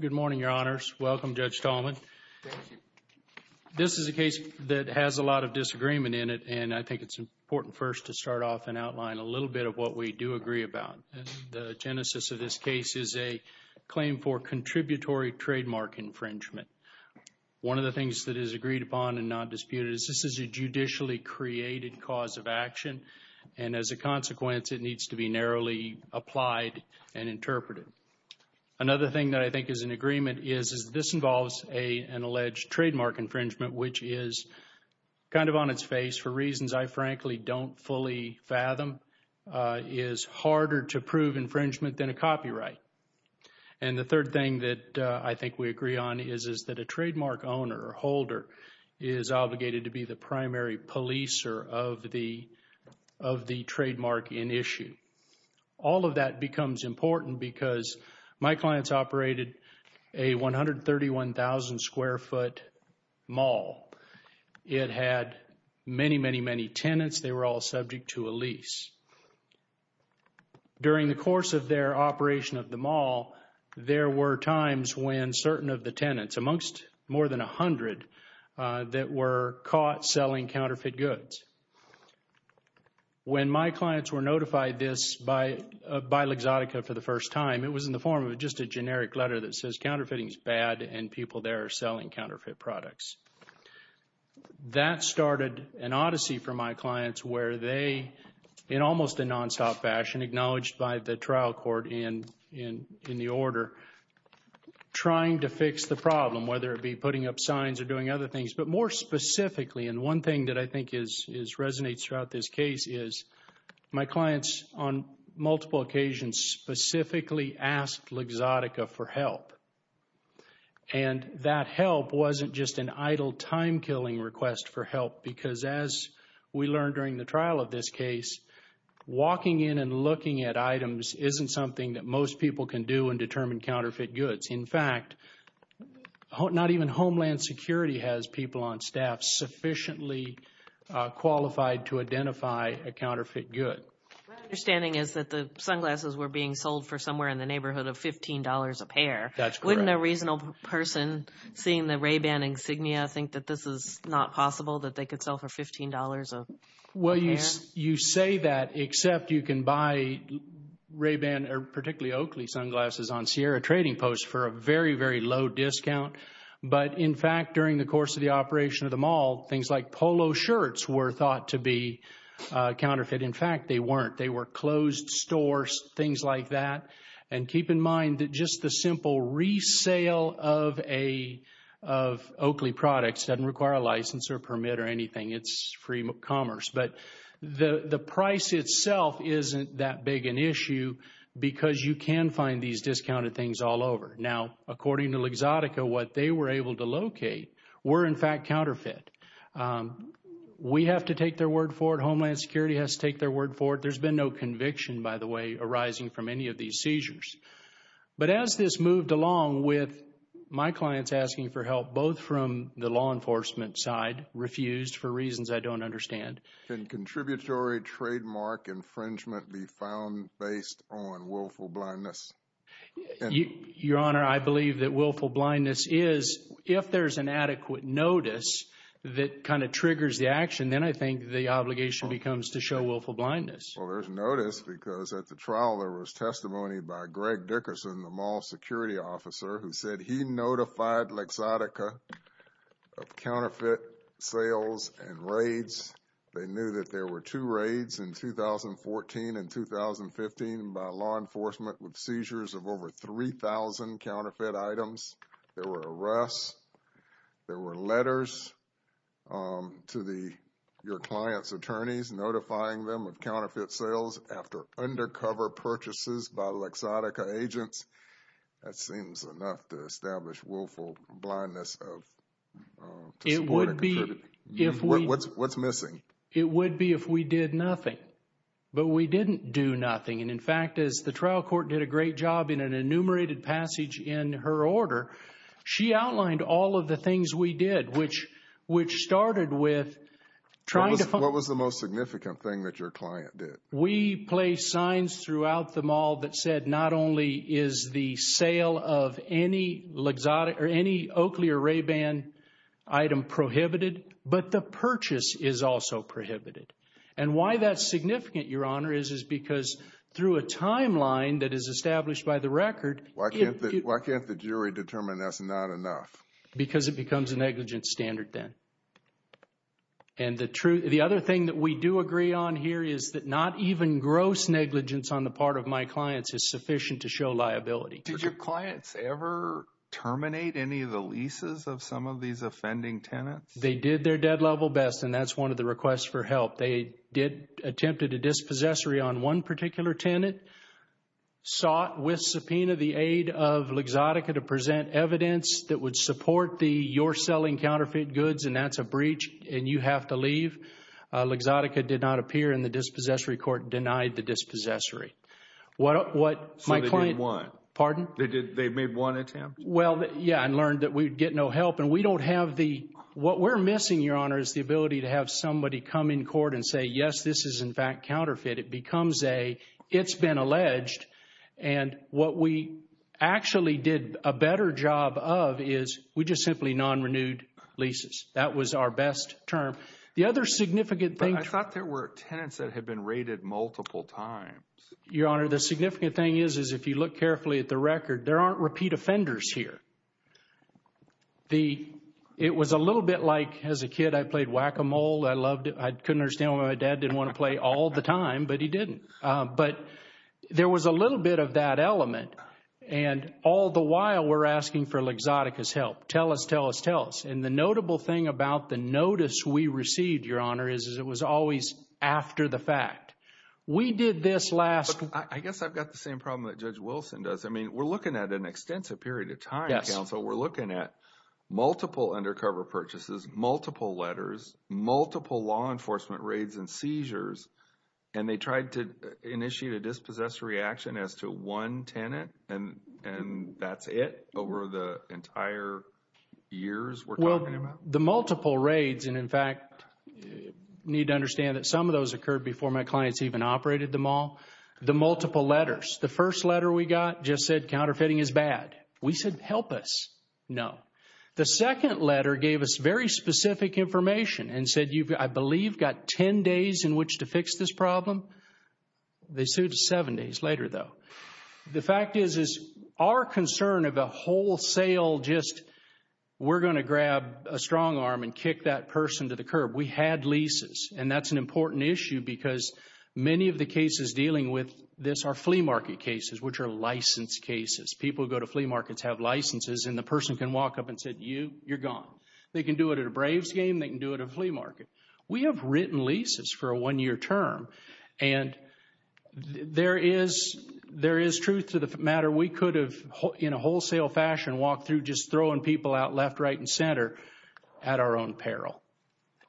Good morning, Your Honors. Welcome, Judge Tallman. This is a case that has a lot of disagreement in it, and I think it's important first to start off and outline a little bit of what we do agree about. The genesis of this case is a claim for contributory trademark infringement. One of the things that is agreed upon and not disputed is this is a judicially created cause of action, and as a consequence, it needs to be narrowly applied and interpreted. Another thing that I think is in agreement is this involves an alleged trademark infringement, which is kind of on its face for reasons I frankly don't fully fathom, is harder to prove infringement than a copyright. And the third thing that I think we agree on is that a trademark owner or holder is obligated to be the primary policer of the trademark in issue. All of that becomes important because my clients operated a 131,000 square foot mall. It had many, many, many tenants. They were all subject to a lease. During the course of their operation of the mall, there were times when certain of the tenants, amongst more than 100, that were caught selling counterfeit goods. When my clients were notified this by L'Exotica for the first time, it was in the form of just a generic letter that says counterfeiting is bad and people there are selling counterfeit products. That started an odyssey for my clients where they, in almost a nonstop fashion, acknowledged by the trial court in the order, trying to fix the problem, whether it be putting up signs or doing other things. But more specifically, and one thing that I think resonates throughout this case is my clients on multiple occasions specifically asked L'Exotica for help. And that help wasn't just an idle time killing request for help because as we learned during the trial of this case, walking in and looking at items isn't something that most people can do and determine counterfeit goods. In fact, not even Homeland Security has people on staff sufficiently qualified to identify a counterfeit good. My understanding is that the sunglasses were being sold for somewhere in the neighborhood of $15 a pair. That's correct. Does the original person seeing the Ray-Ban insignia think that this is not possible, that they could sell for $15 a pair? Well, you say that except you can buy Ray-Ban, particularly Oakley sunglasses on Sierra Trading Post for a very, very low discount. But in fact, during the course of the operation of the mall, things like polo shirts were thought to be counterfeit. In fact, they weren't. They were closed stores, things like that. And keep in mind that just the simple resale of Oakley products doesn't require a license or permit or anything. It's free commerce. But the price itself isn't that big an issue because you can find these discounted things all over. Now, according to L'Exotica, what they were able to locate were, in fact, counterfeit. We have to take their word for it. Homeland Security has to take their word for it. There's been no conviction, by the way, arising from any of these seizures. But as this moved along with my clients asking for help, both from the law enforcement side refused for reasons I don't understand. Can contributory trademark infringement be found based on willful blindness? Your Honor, I believe that willful blindness is, if there's an adequate notice that kind of triggers the action, then I think the obligation becomes to show willful blindness. Well, there's notice because at the trial there was testimony by Greg Dickerson, the mall security officer, who said he notified L'Exotica of counterfeit sales and raids. They knew that there were two raids in 2014 and 2015 by law enforcement with seizures of over 3,000 counterfeit items. There were arrests, there were letters to your client's attorneys notifying them of counterfeit sales after undercover purchases by L'Exotica agents. That seems enough to establish willful blindness to support and contribute. What's missing? It would be if we did nothing. But we didn't do nothing, and in fact as the trial court did a great job in an enumerated passage in her order, she outlined all of the things we did, which started with trying to... What was the most significant thing that your client did? We placed signs throughout the mall that said not only is the sale of any Oakley or Ray Ban item prohibited, but the purchase is also prohibited. And why that's significant, Your Honor, is because through a timeline that is established by the record... Why can't the jury determine that's not enough? Because it becomes a negligence standard then. And the other thing that we do agree on here is that not even gross negligence on the part of my clients is sufficient to show liability. Did your clients ever terminate any of the leases of some of these offending tenants? They did their dead level best, and that's one of the requests for help. They attempted a dispossessory on one particular tenant, sought with subpoena the aid of Lexotica to present evidence that would support the you're selling counterfeit goods and that's a breach and you have to leave. Lexotica did not appear in the dispossessory court, denied the dispossessory. What my client... So they didn't want? Pardon? They made one attempt? Well, yeah, and learned that we'd get no help, and we don't have the... court and say, yes, this is in fact counterfeit. It becomes a, it's been alleged, and what we actually did a better job of is we just simply non-renewed leases. That was our best term. The other significant thing... But I thought there were tenants that had been raided multiple times. Your Honor, the significant thing is, is if you look carefully at the record, there aren't repeat offenders here. It was a little bit like as a kid, I played whack-a-mole. I loved it. I couldn't understand why my dad didn't want to play all the time, but he didn't. But there was a little bit of that element, and all the while, we're asking for Lexotica's help. Tell us, tell us, tell us. And the notable thing about the notice we received, Your Honor, is it was always after the fact. We did this last... I guess I've got the same problem that Judge Wilson does. I mean, we're looking at an extensive period of time, counsel. So we're looking at multiple undercover purchases, multiple letters, multiple law enforcement raids and seizures, and they tried to initiate a dispossessed reaction as to one tenant, and that's it over the entire years we're talking about? The multiple raids, and in fact, you need to understand that some of those occurred before my clients even operated the mall. The multiple letters. The first letter we got just said, counterfeiting is bad. We said, help us. No. The second letter gave us very specific information and said, I believe you've got 10 days in which to fix this problem. They sued seven days later, though. The fact is, is our concern of a wholesale just, we're going to grab a strong arm and kick that person to the curb. We had leases, and that's an important issue because many of the cases dealing with this are flea market cases, which are licensed cases. People who go to flea markets have licenses, and the person can walk up and say, you, you're gone. They can do it at a Braves game. They can do it at a flea market. We have written leases for a one-year term, and there is truth to the matter. We could have, in a wholesale fashion, walked through just throwing people out left, right, and center at our own peril.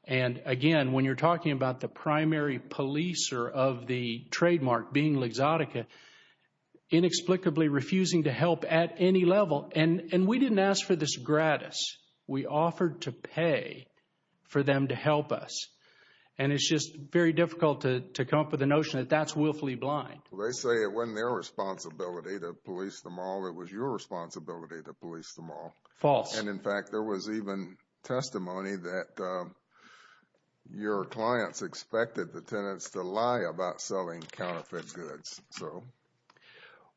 And again, when you're talking about the primary policer of the trademark being L'Exotica, and inexplicably refusing to help at any level, and we didn't ask for this gratis. We offered to pay for them to help us. And it's just very difficult to come up with the notion that that's willfully blind. Well, they say it wasn't their responsibility to police them all, it was your responsibility to police them all. False. And in fact, there was even testimony that your clients expected the tenants to lie about selling counterfeit goods.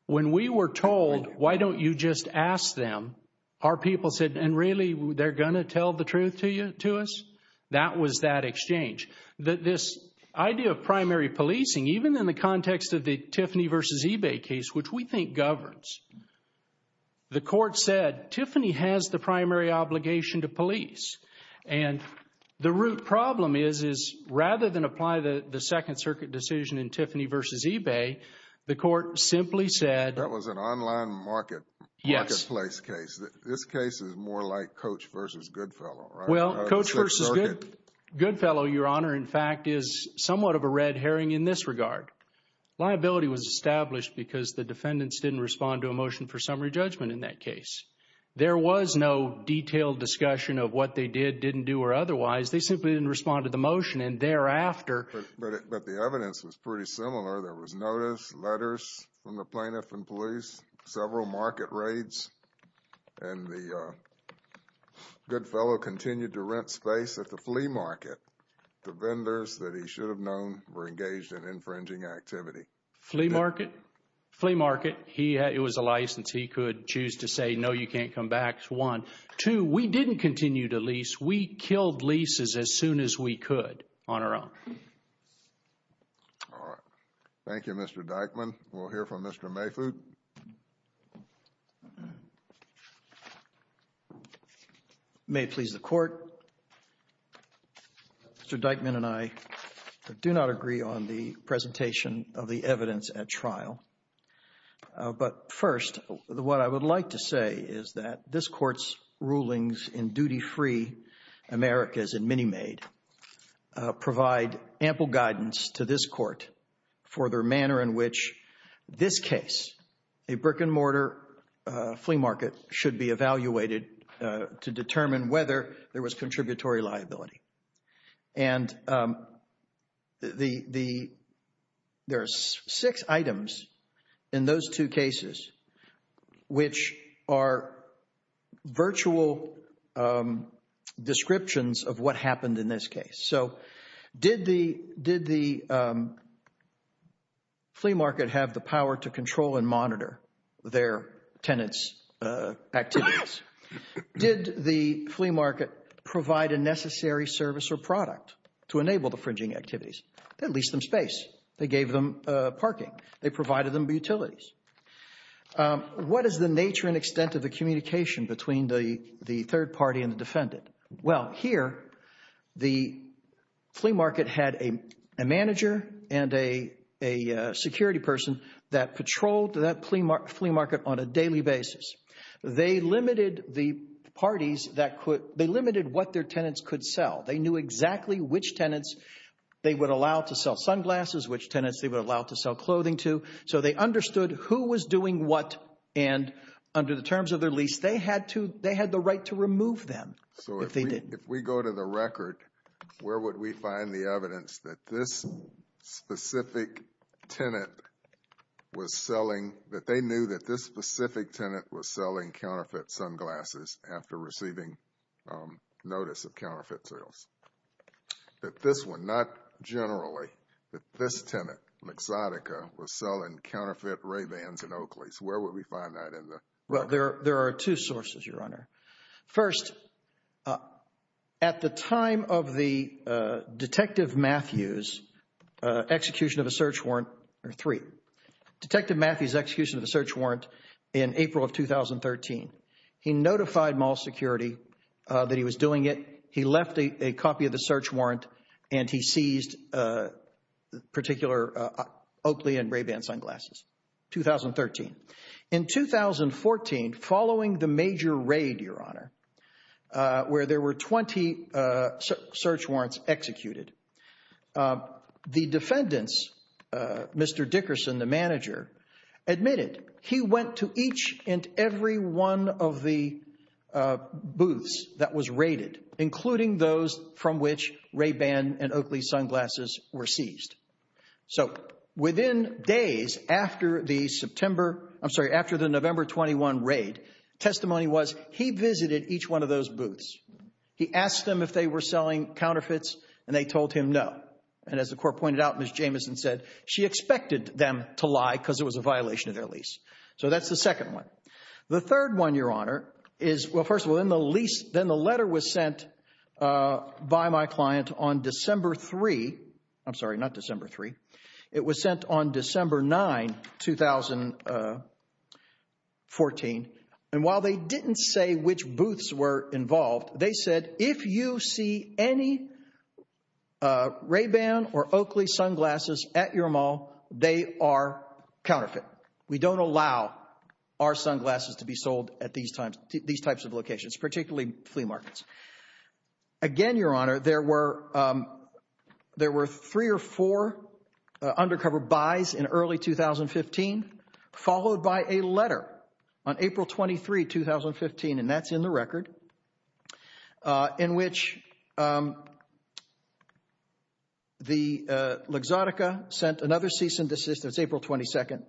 When we were told, why don't you just ask them, our people said, and really, they're going to tell the truth to us? That was that exchange. This idea of primary policing, even in the context of the Tiffany v. eBay case, which we think governs, the court said, Tiffany has the primary obligation to police. And the root problem is, is rather than apply the Second Circuit decision in Tiffany v. eBay, the court simply said. That was an online marketplace case. This case is more like Coach v. Goodfellow, right? Well, Coach v. Goodfellow, Your Honor, in fact, is somewhat of a red herring in this regard. Liability was established because the defendants didn't respond to a motion for summary judgment in that case. There was no detailed discussion of what they did, didn't do, or otherwise. They simply didn't respond to the motion. And thereafter. But the evidence was pretty similar. There was notice, letters from the plaintiff and police, several market raids, and the Goodfellow continued to rent space at the flea market to vendors that he should have known were engaged in infringing activity. Flea market? Flea market. All right. It was a license. He could choose to say, no, you can't come back, one. Two, we didn't continue to lease. We killed leases as soon as we could on our own. All right. Thank you, Mr. Dykman. We'll hear from Mr. Mayfoot. May it please the Court, Mr. Dykman and I do not agree on the presentation of the evidence at trial. But first, what I would like to say is that this Court's rulings in Duty Free Americas and Minimaid provide ample guidance to this Court for their manner in which this case, a brick-and-mortar flea market, should be evaluated to determine whether there was contributory liability. And there are six items in those two cases which are virtual descriptions of what happened in this case. So, did the flea market have the power to control and monitor their tenants' activities? Yes. Did the flea market provide a necessary service or product to enable the fringing activities? They leased them space. They gave them parking. They provided them utilities. What is the nature and extent of the communication between the third party and the defendant? Well, here, the flea market had a manager and a security person that patrolled that flea market on a daily basis. They limited the parties that could, they limited what their tenants could sell. They knew exactly which tenants they would allow to sell sunglasses, which tenants they would allow to sell clothing to. So they understood who was doing what, and under the terms of their lease, they had to, they had the right to remove them if they did. If we go to the record, where would we find the evidence that this specific tenant was selling counterfeit sunglasses after receiving notice of counterfeit sales? That this one, not generally, that this tenant, McZotica, was selling counterfeit Ray-Bans in Oakley's. Where would we find that in the record? Well, there are two sources, Your Honor. First, at the time of the Detective Matthews' execution of a search warrant, or three, Detective Matthews, in 2013, he notified mall security that he was doing it. He left a copy of the search warrant, and he seized particular Oakley and Ray-Ban sunglasses, 2013. In 2014, following the major raid, Your Honor, where there were 20 search warrants executed, the defendants, Mr. Dickerson, the manager, admitted he went to each and every one of the booths that was raided, including those from which Ray-Ban and Oakley's sunglasses were seized. So within days after the September, I'm sorry, after the November 21 raid, testimony was he visited each one of those booths. He asked them if they were selling counterfeits, and they told him no. And as the court pointed out, Ms. Jamison said she expected them to lie because it was a violation of their lease. So that's the second one. The third one, Your Honor, is, well, first of all, in the lease, then the letter was sent by my client on December 3, I'm sorry, not December 3. It was sent on December 9, 2014. And while they didn't say which booths were involved, they said, if you see any Ray-Ban or Oakley sunglasses at your mall, they are counterfeit. We don't allow our sunglasses to be sold at these types of locations, particularly flea markets. Again, Your Honor, there were three or four undercover buys in early 2015, followed by a letter on April 23, 2015, and that's in the record, in which the L'Exotica sent another cease and desist, that's April 22,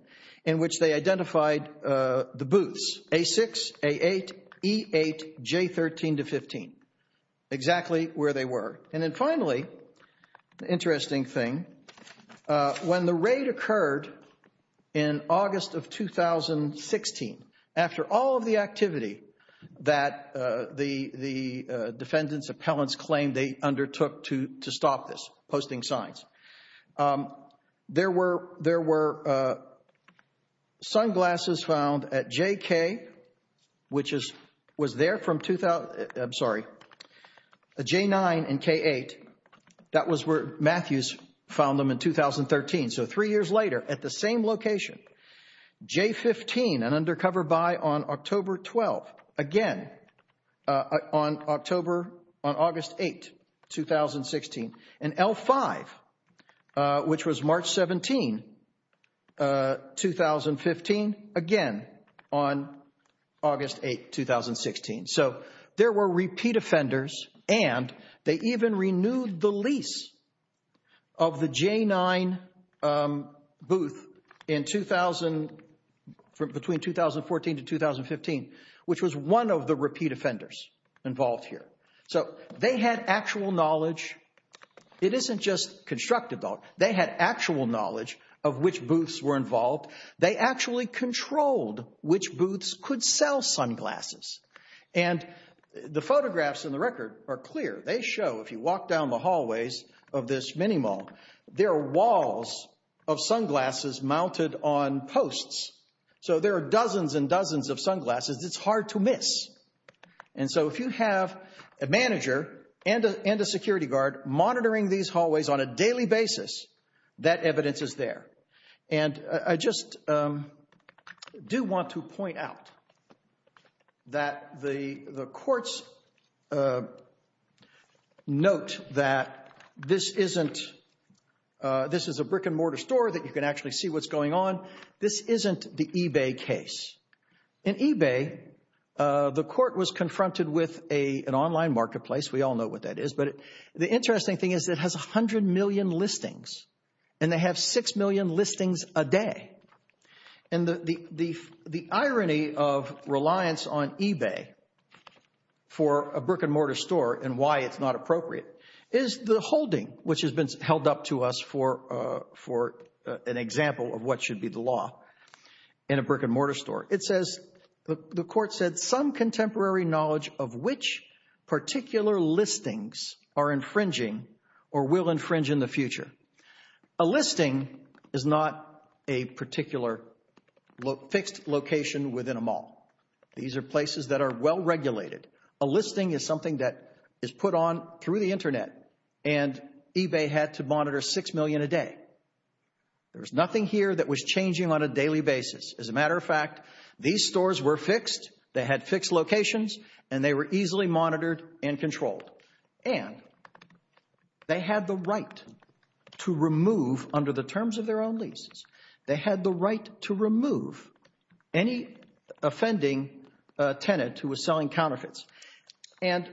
in which they identified the booths, A6, A8, E8, J13 to 15, exactly where they were. And then finally, an interesting thing, when the raid occurred in August of 2016, after all of the activity that the defendant's appellants claimed they undertook to stop this, posting signs, there were sunglasses found at JK, which was there from, I'm sorry, J9 and K8. That was where Matthews found them in 2013. So three years later, at the same location, J15, an undercover buy on October 12, again, on October, on August 8, 2016, and L5, which was March 17, 2015, again, on August 8, 2016. So there were repeat offenders, and they even renewed the lease of the J9 booth in 2000, from between 2014 to 2015, which was one of the repeat offenders involved here. So they had actual knowledge. It isn't just constructive, though. They had actual knowledge of which booths were involved. They actually controlled which booths could sell sunglasses. And the photographs in the record are clear. They show, if you walk down the hallways of this mini-mall, there are walls of sunglasses mounted on posts. So there are dozens and dozens of sunglasses. It's hard to miss. And so if you have a manager and a security guard monitoring these hallways on a daily basis, that evidence is there. And I just do want to point out that the courts note that this isn't, this is a brick-and-mortar store that you can actually see what's going on. This isn't the eBay case. In eBay, the court was confronted with an online marketplace. We all know what that is. But the interesting thing is it has 100 million listings, and they have 6 million listings a day. And the irony of reliance on eBay for a brick-and-mortar store, and why it's not appropriate, is the example of what should be the law in a brick-and-mortar store. It says, the court said, some contemporary knowledge of which particular listings are infringing or will infringe in the future. A listing is not a particular fixed location within a mall. These are places that are well-regulated. A listing is something that is put on through the Internet, and eBay had to monitor 6 million a day. There was nothing here that was changing on a daily basis. As a matter of fact, these stores were fixed, they had fixed locations, and they were easily monitored and controlled. And they had the right to remove, under the terms of their own leases, they had the right to remove any offending tenant who was selling counterfeits. And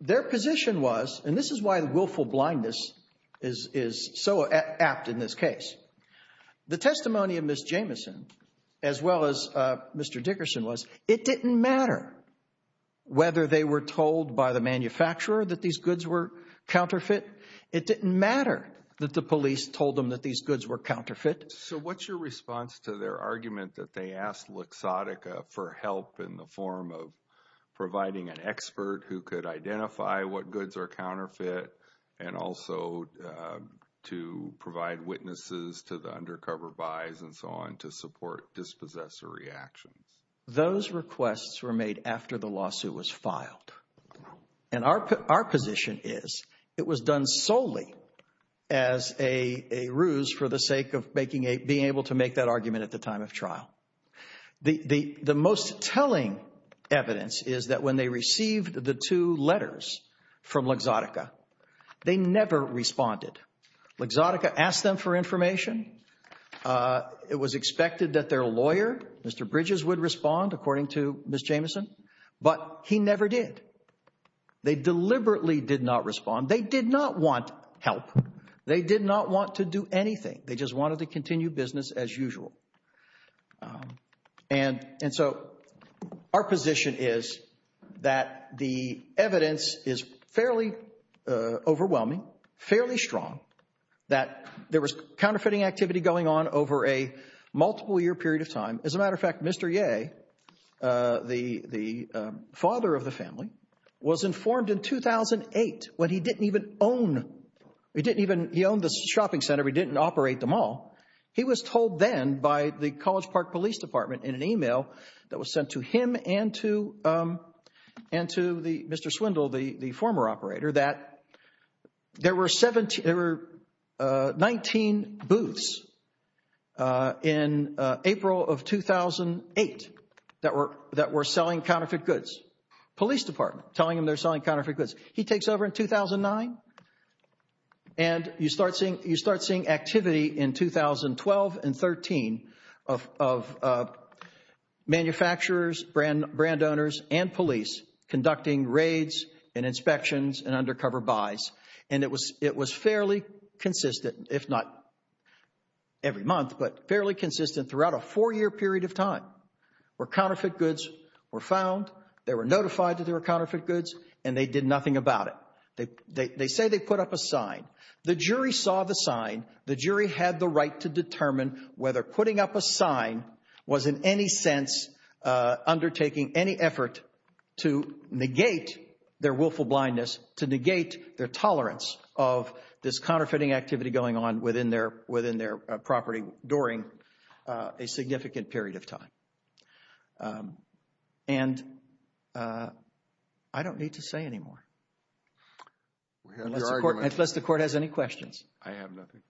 their position was, and this is why willful blindness is so apt in this case, the testimony of Ms. Jamieson, as well as Mr. Dickerson, was it didn't matter whether they were told by the manufacturer that these goods were counterfeit. It didn't matter that the police told them that these goods were counterfeit. So what's your response to their argument that they asked Luxottica for help in the expert who could identify what goods are counterfeit and also to provide witnesses to the undercover buys and so on to support dispossessor reactions? Those requests were made after the lawsuit was filed. And our position is, it was done solely as a ruse for the sake of being able to make that argument at the time of trial. The most telling evidence is that when they received the two letters from Luxottica, they never responded. Luxottica asked them for information. It was expected that their lawyer, Mr. Bridges, would respond, according to Ms. Jamieson. But he never did. They deliberately did not respond. They did not want help. They did not want to do anything. They just wanted to continue business as usual. And so our position is that the evidence is fairly overwhelming, fairly strong, that there was counterfeiting activity going on over a multiple-year period of time. As a matter of fact, Mr. Yeh, the father of the family, was informed in 2008 when he didn't even own the shopping center, he didn't operate the mall, he was told then by the College Park Police Department in an email that was sent to him and to Mr. Swindle, the former operator, that there were 19 booths in April of 2008 that were selling counterfeit goods. Police Department telling him they were selling counterfeit goods. He takes over in 2009, and you start seeing activity in 2012 and 2013 of manufacturers, brand owners, and police conducting raids and inspections and undercover buys. And it was fairly consistent, if not every month, but fairly consistent throughout a four-year period of time where counterfeit goods were found, they were notified that there was counterfeiting about it. They say they put up a sign. The jury saw the sign. The jury had the right to determine whether putting up a sign was in any sense undertaking any effort to negate their willful blindness, to negate their tolerance of this counterfeiting activity going on within their property during a significant period of time. And I don't need to say any more, unless the Court has any questions. I have nothing.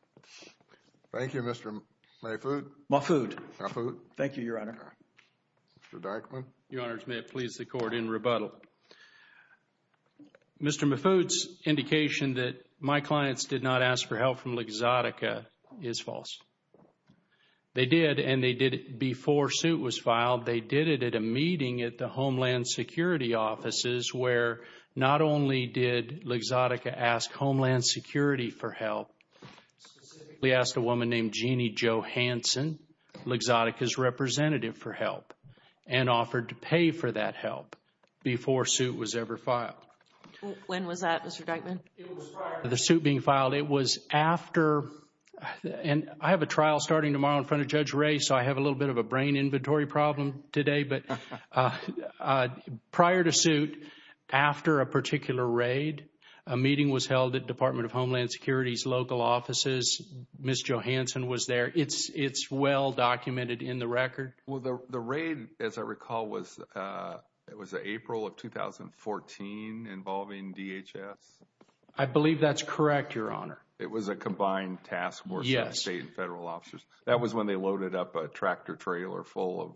Thank you, Mr. Mahfoud. Mahfoud. Mahfoud. Thank you, Your Honor. Mr. Dyckman. Your Honors, may it please the Court in rebuttal. Mr. Mahfoud's indication that my clients did not ask for help from L'Exotica is false. They did, and they did it before suit was filed. They did it at a meeting at the Homeland Security offices where not only did L'Exotica ask Homeland Security for help, specifically asked a woman named Jeanne Johanson, L'Exotica's representative for help, and offered to pay for that help before suit was ever filed. When was that, Mr. Dyckman? It was prior to the suit being filed. It was after, and I have a trial starting tomorrow in front of Judge Ray, so I have a little bit of a brain inventory problem today, but prior to suit, after a particular raid, a meeting was held at Department of Homeland Security's local offices. Ms. Johanson was there. It's well documented in the record. Well, the raid, as I recall, was April of 2014 involving DHS? I believe that's correct, Your Honor. It was a combined task force of state and federal officers. That was when they loaded up a tractor trailer full of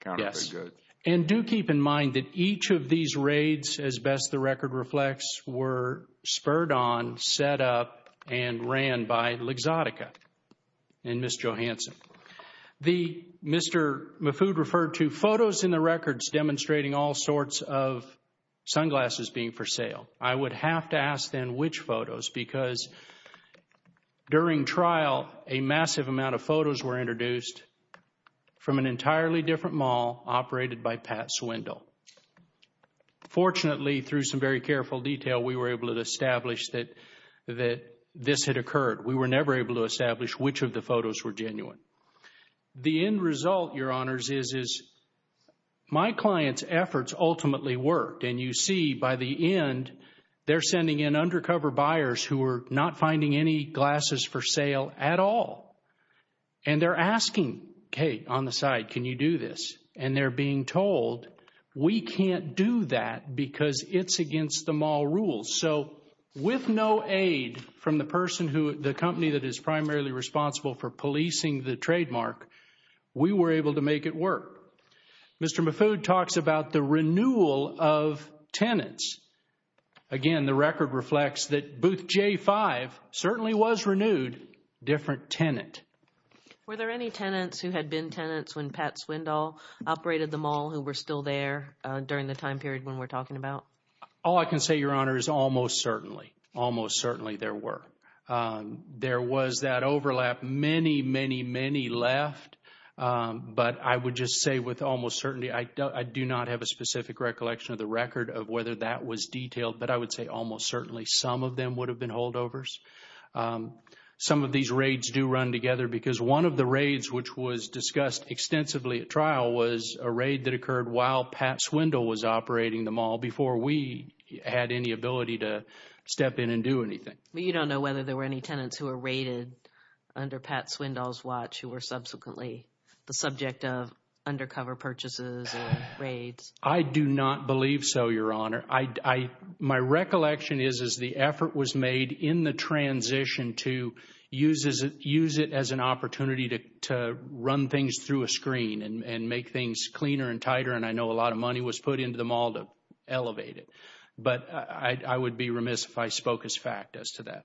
counterfeit goods. Yes. And do keep in mind that each of these raids, as best the record reflects, were spurred on, set up, and ran by L'Exotica and Ms. Johanson. The Mr. Mahfoud referred to photos in the records demonstrating all sorts of sunglasses being for sale. I would have to ask then which photos because during trial, a massive amount of photos were introduced from an entirely different mall operated by Pat Swindle. Fortunately, through some very careful detail, we were able to establish that this had occurred. We were never able to establish which of the photos were genuine. The end result, Your Honors, is my client's efforts ultimately worked, and you see by the end, they're sending in undercover buyers who were not finding any glasses for sale at all. And they're asking, okay, on the side, can you do this? And they're being told, we can't do that because it's against the mall rules. So with no aid from the person who, the company that is primarily responsible for policing the trademark, we were able to make it work. Mr. Mahfoud talks about the renewal of tenants. Again, the record reflects that Booth J5 certainly was renewed, different tenant. Were there any tenants who had been tenants when Pat Swindle operated the mall who were still there during the time period when we're talking about? All I can say, Your Honor, is almost certainly. Almost certainly there were. There was that overlap. Many, many, many left. But I would just say with almost certainty, I do not have a specific recollection of the record of whether that was detailed, but I would say almost certainly some of them would have been holdovers. Some of these raids do run together because one of the raids which was discussed extensively at trial was a raid that occurred while Pat Swindle was operating the mall before we had any ability to step in and do anything. You don't know whether there were any tenants who were raided under Pat Swindle's watch who were subsequently the subject of undercover purchases or raids? I do not believe so, Your Honor. My recollection is, is the effort was made in the transition to use it as an opportunity to run things through a screen and make things cleaner and tighter, and I know a lot of money was put into the mall to elevate it. But I would be remiss if I spoke as fact as to that.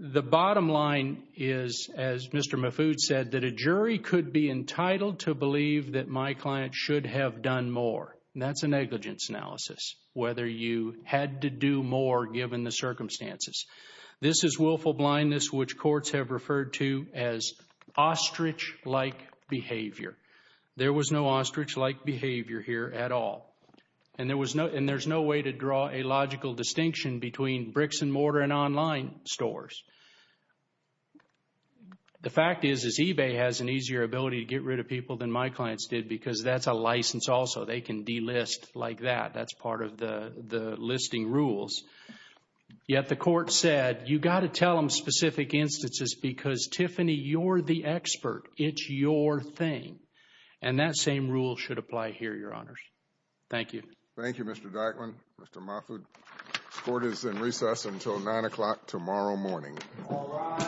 The bottom line is, as Mr. Mahfoud said, that a jury could be entitled to believe that my client should have done more. That's a negligence analysis, whether you had to do more given the circumstances. This is willful blindness, which courts have referred to as ostrich-like behavior. There was no ostrich-like behavior here at all. And there was no, and there's no way to draw a logical distinction between bricks and mortar and online stores. The fact is, is eBay has an easier ability to get rid of people than my clients did because that's a license also. They can delist like that. That's part of the listing rules. Yet the court said, you got to tell them specific instances because, Tiffany, you're the expert. It's your thing. And that same rule should apply here, Your Honors. Thank you. Thank you, Mr. Dyckman. Mr. Mahfoud. The court is in recess until 9 o'clock tomorrow morning. All rise. Thank you.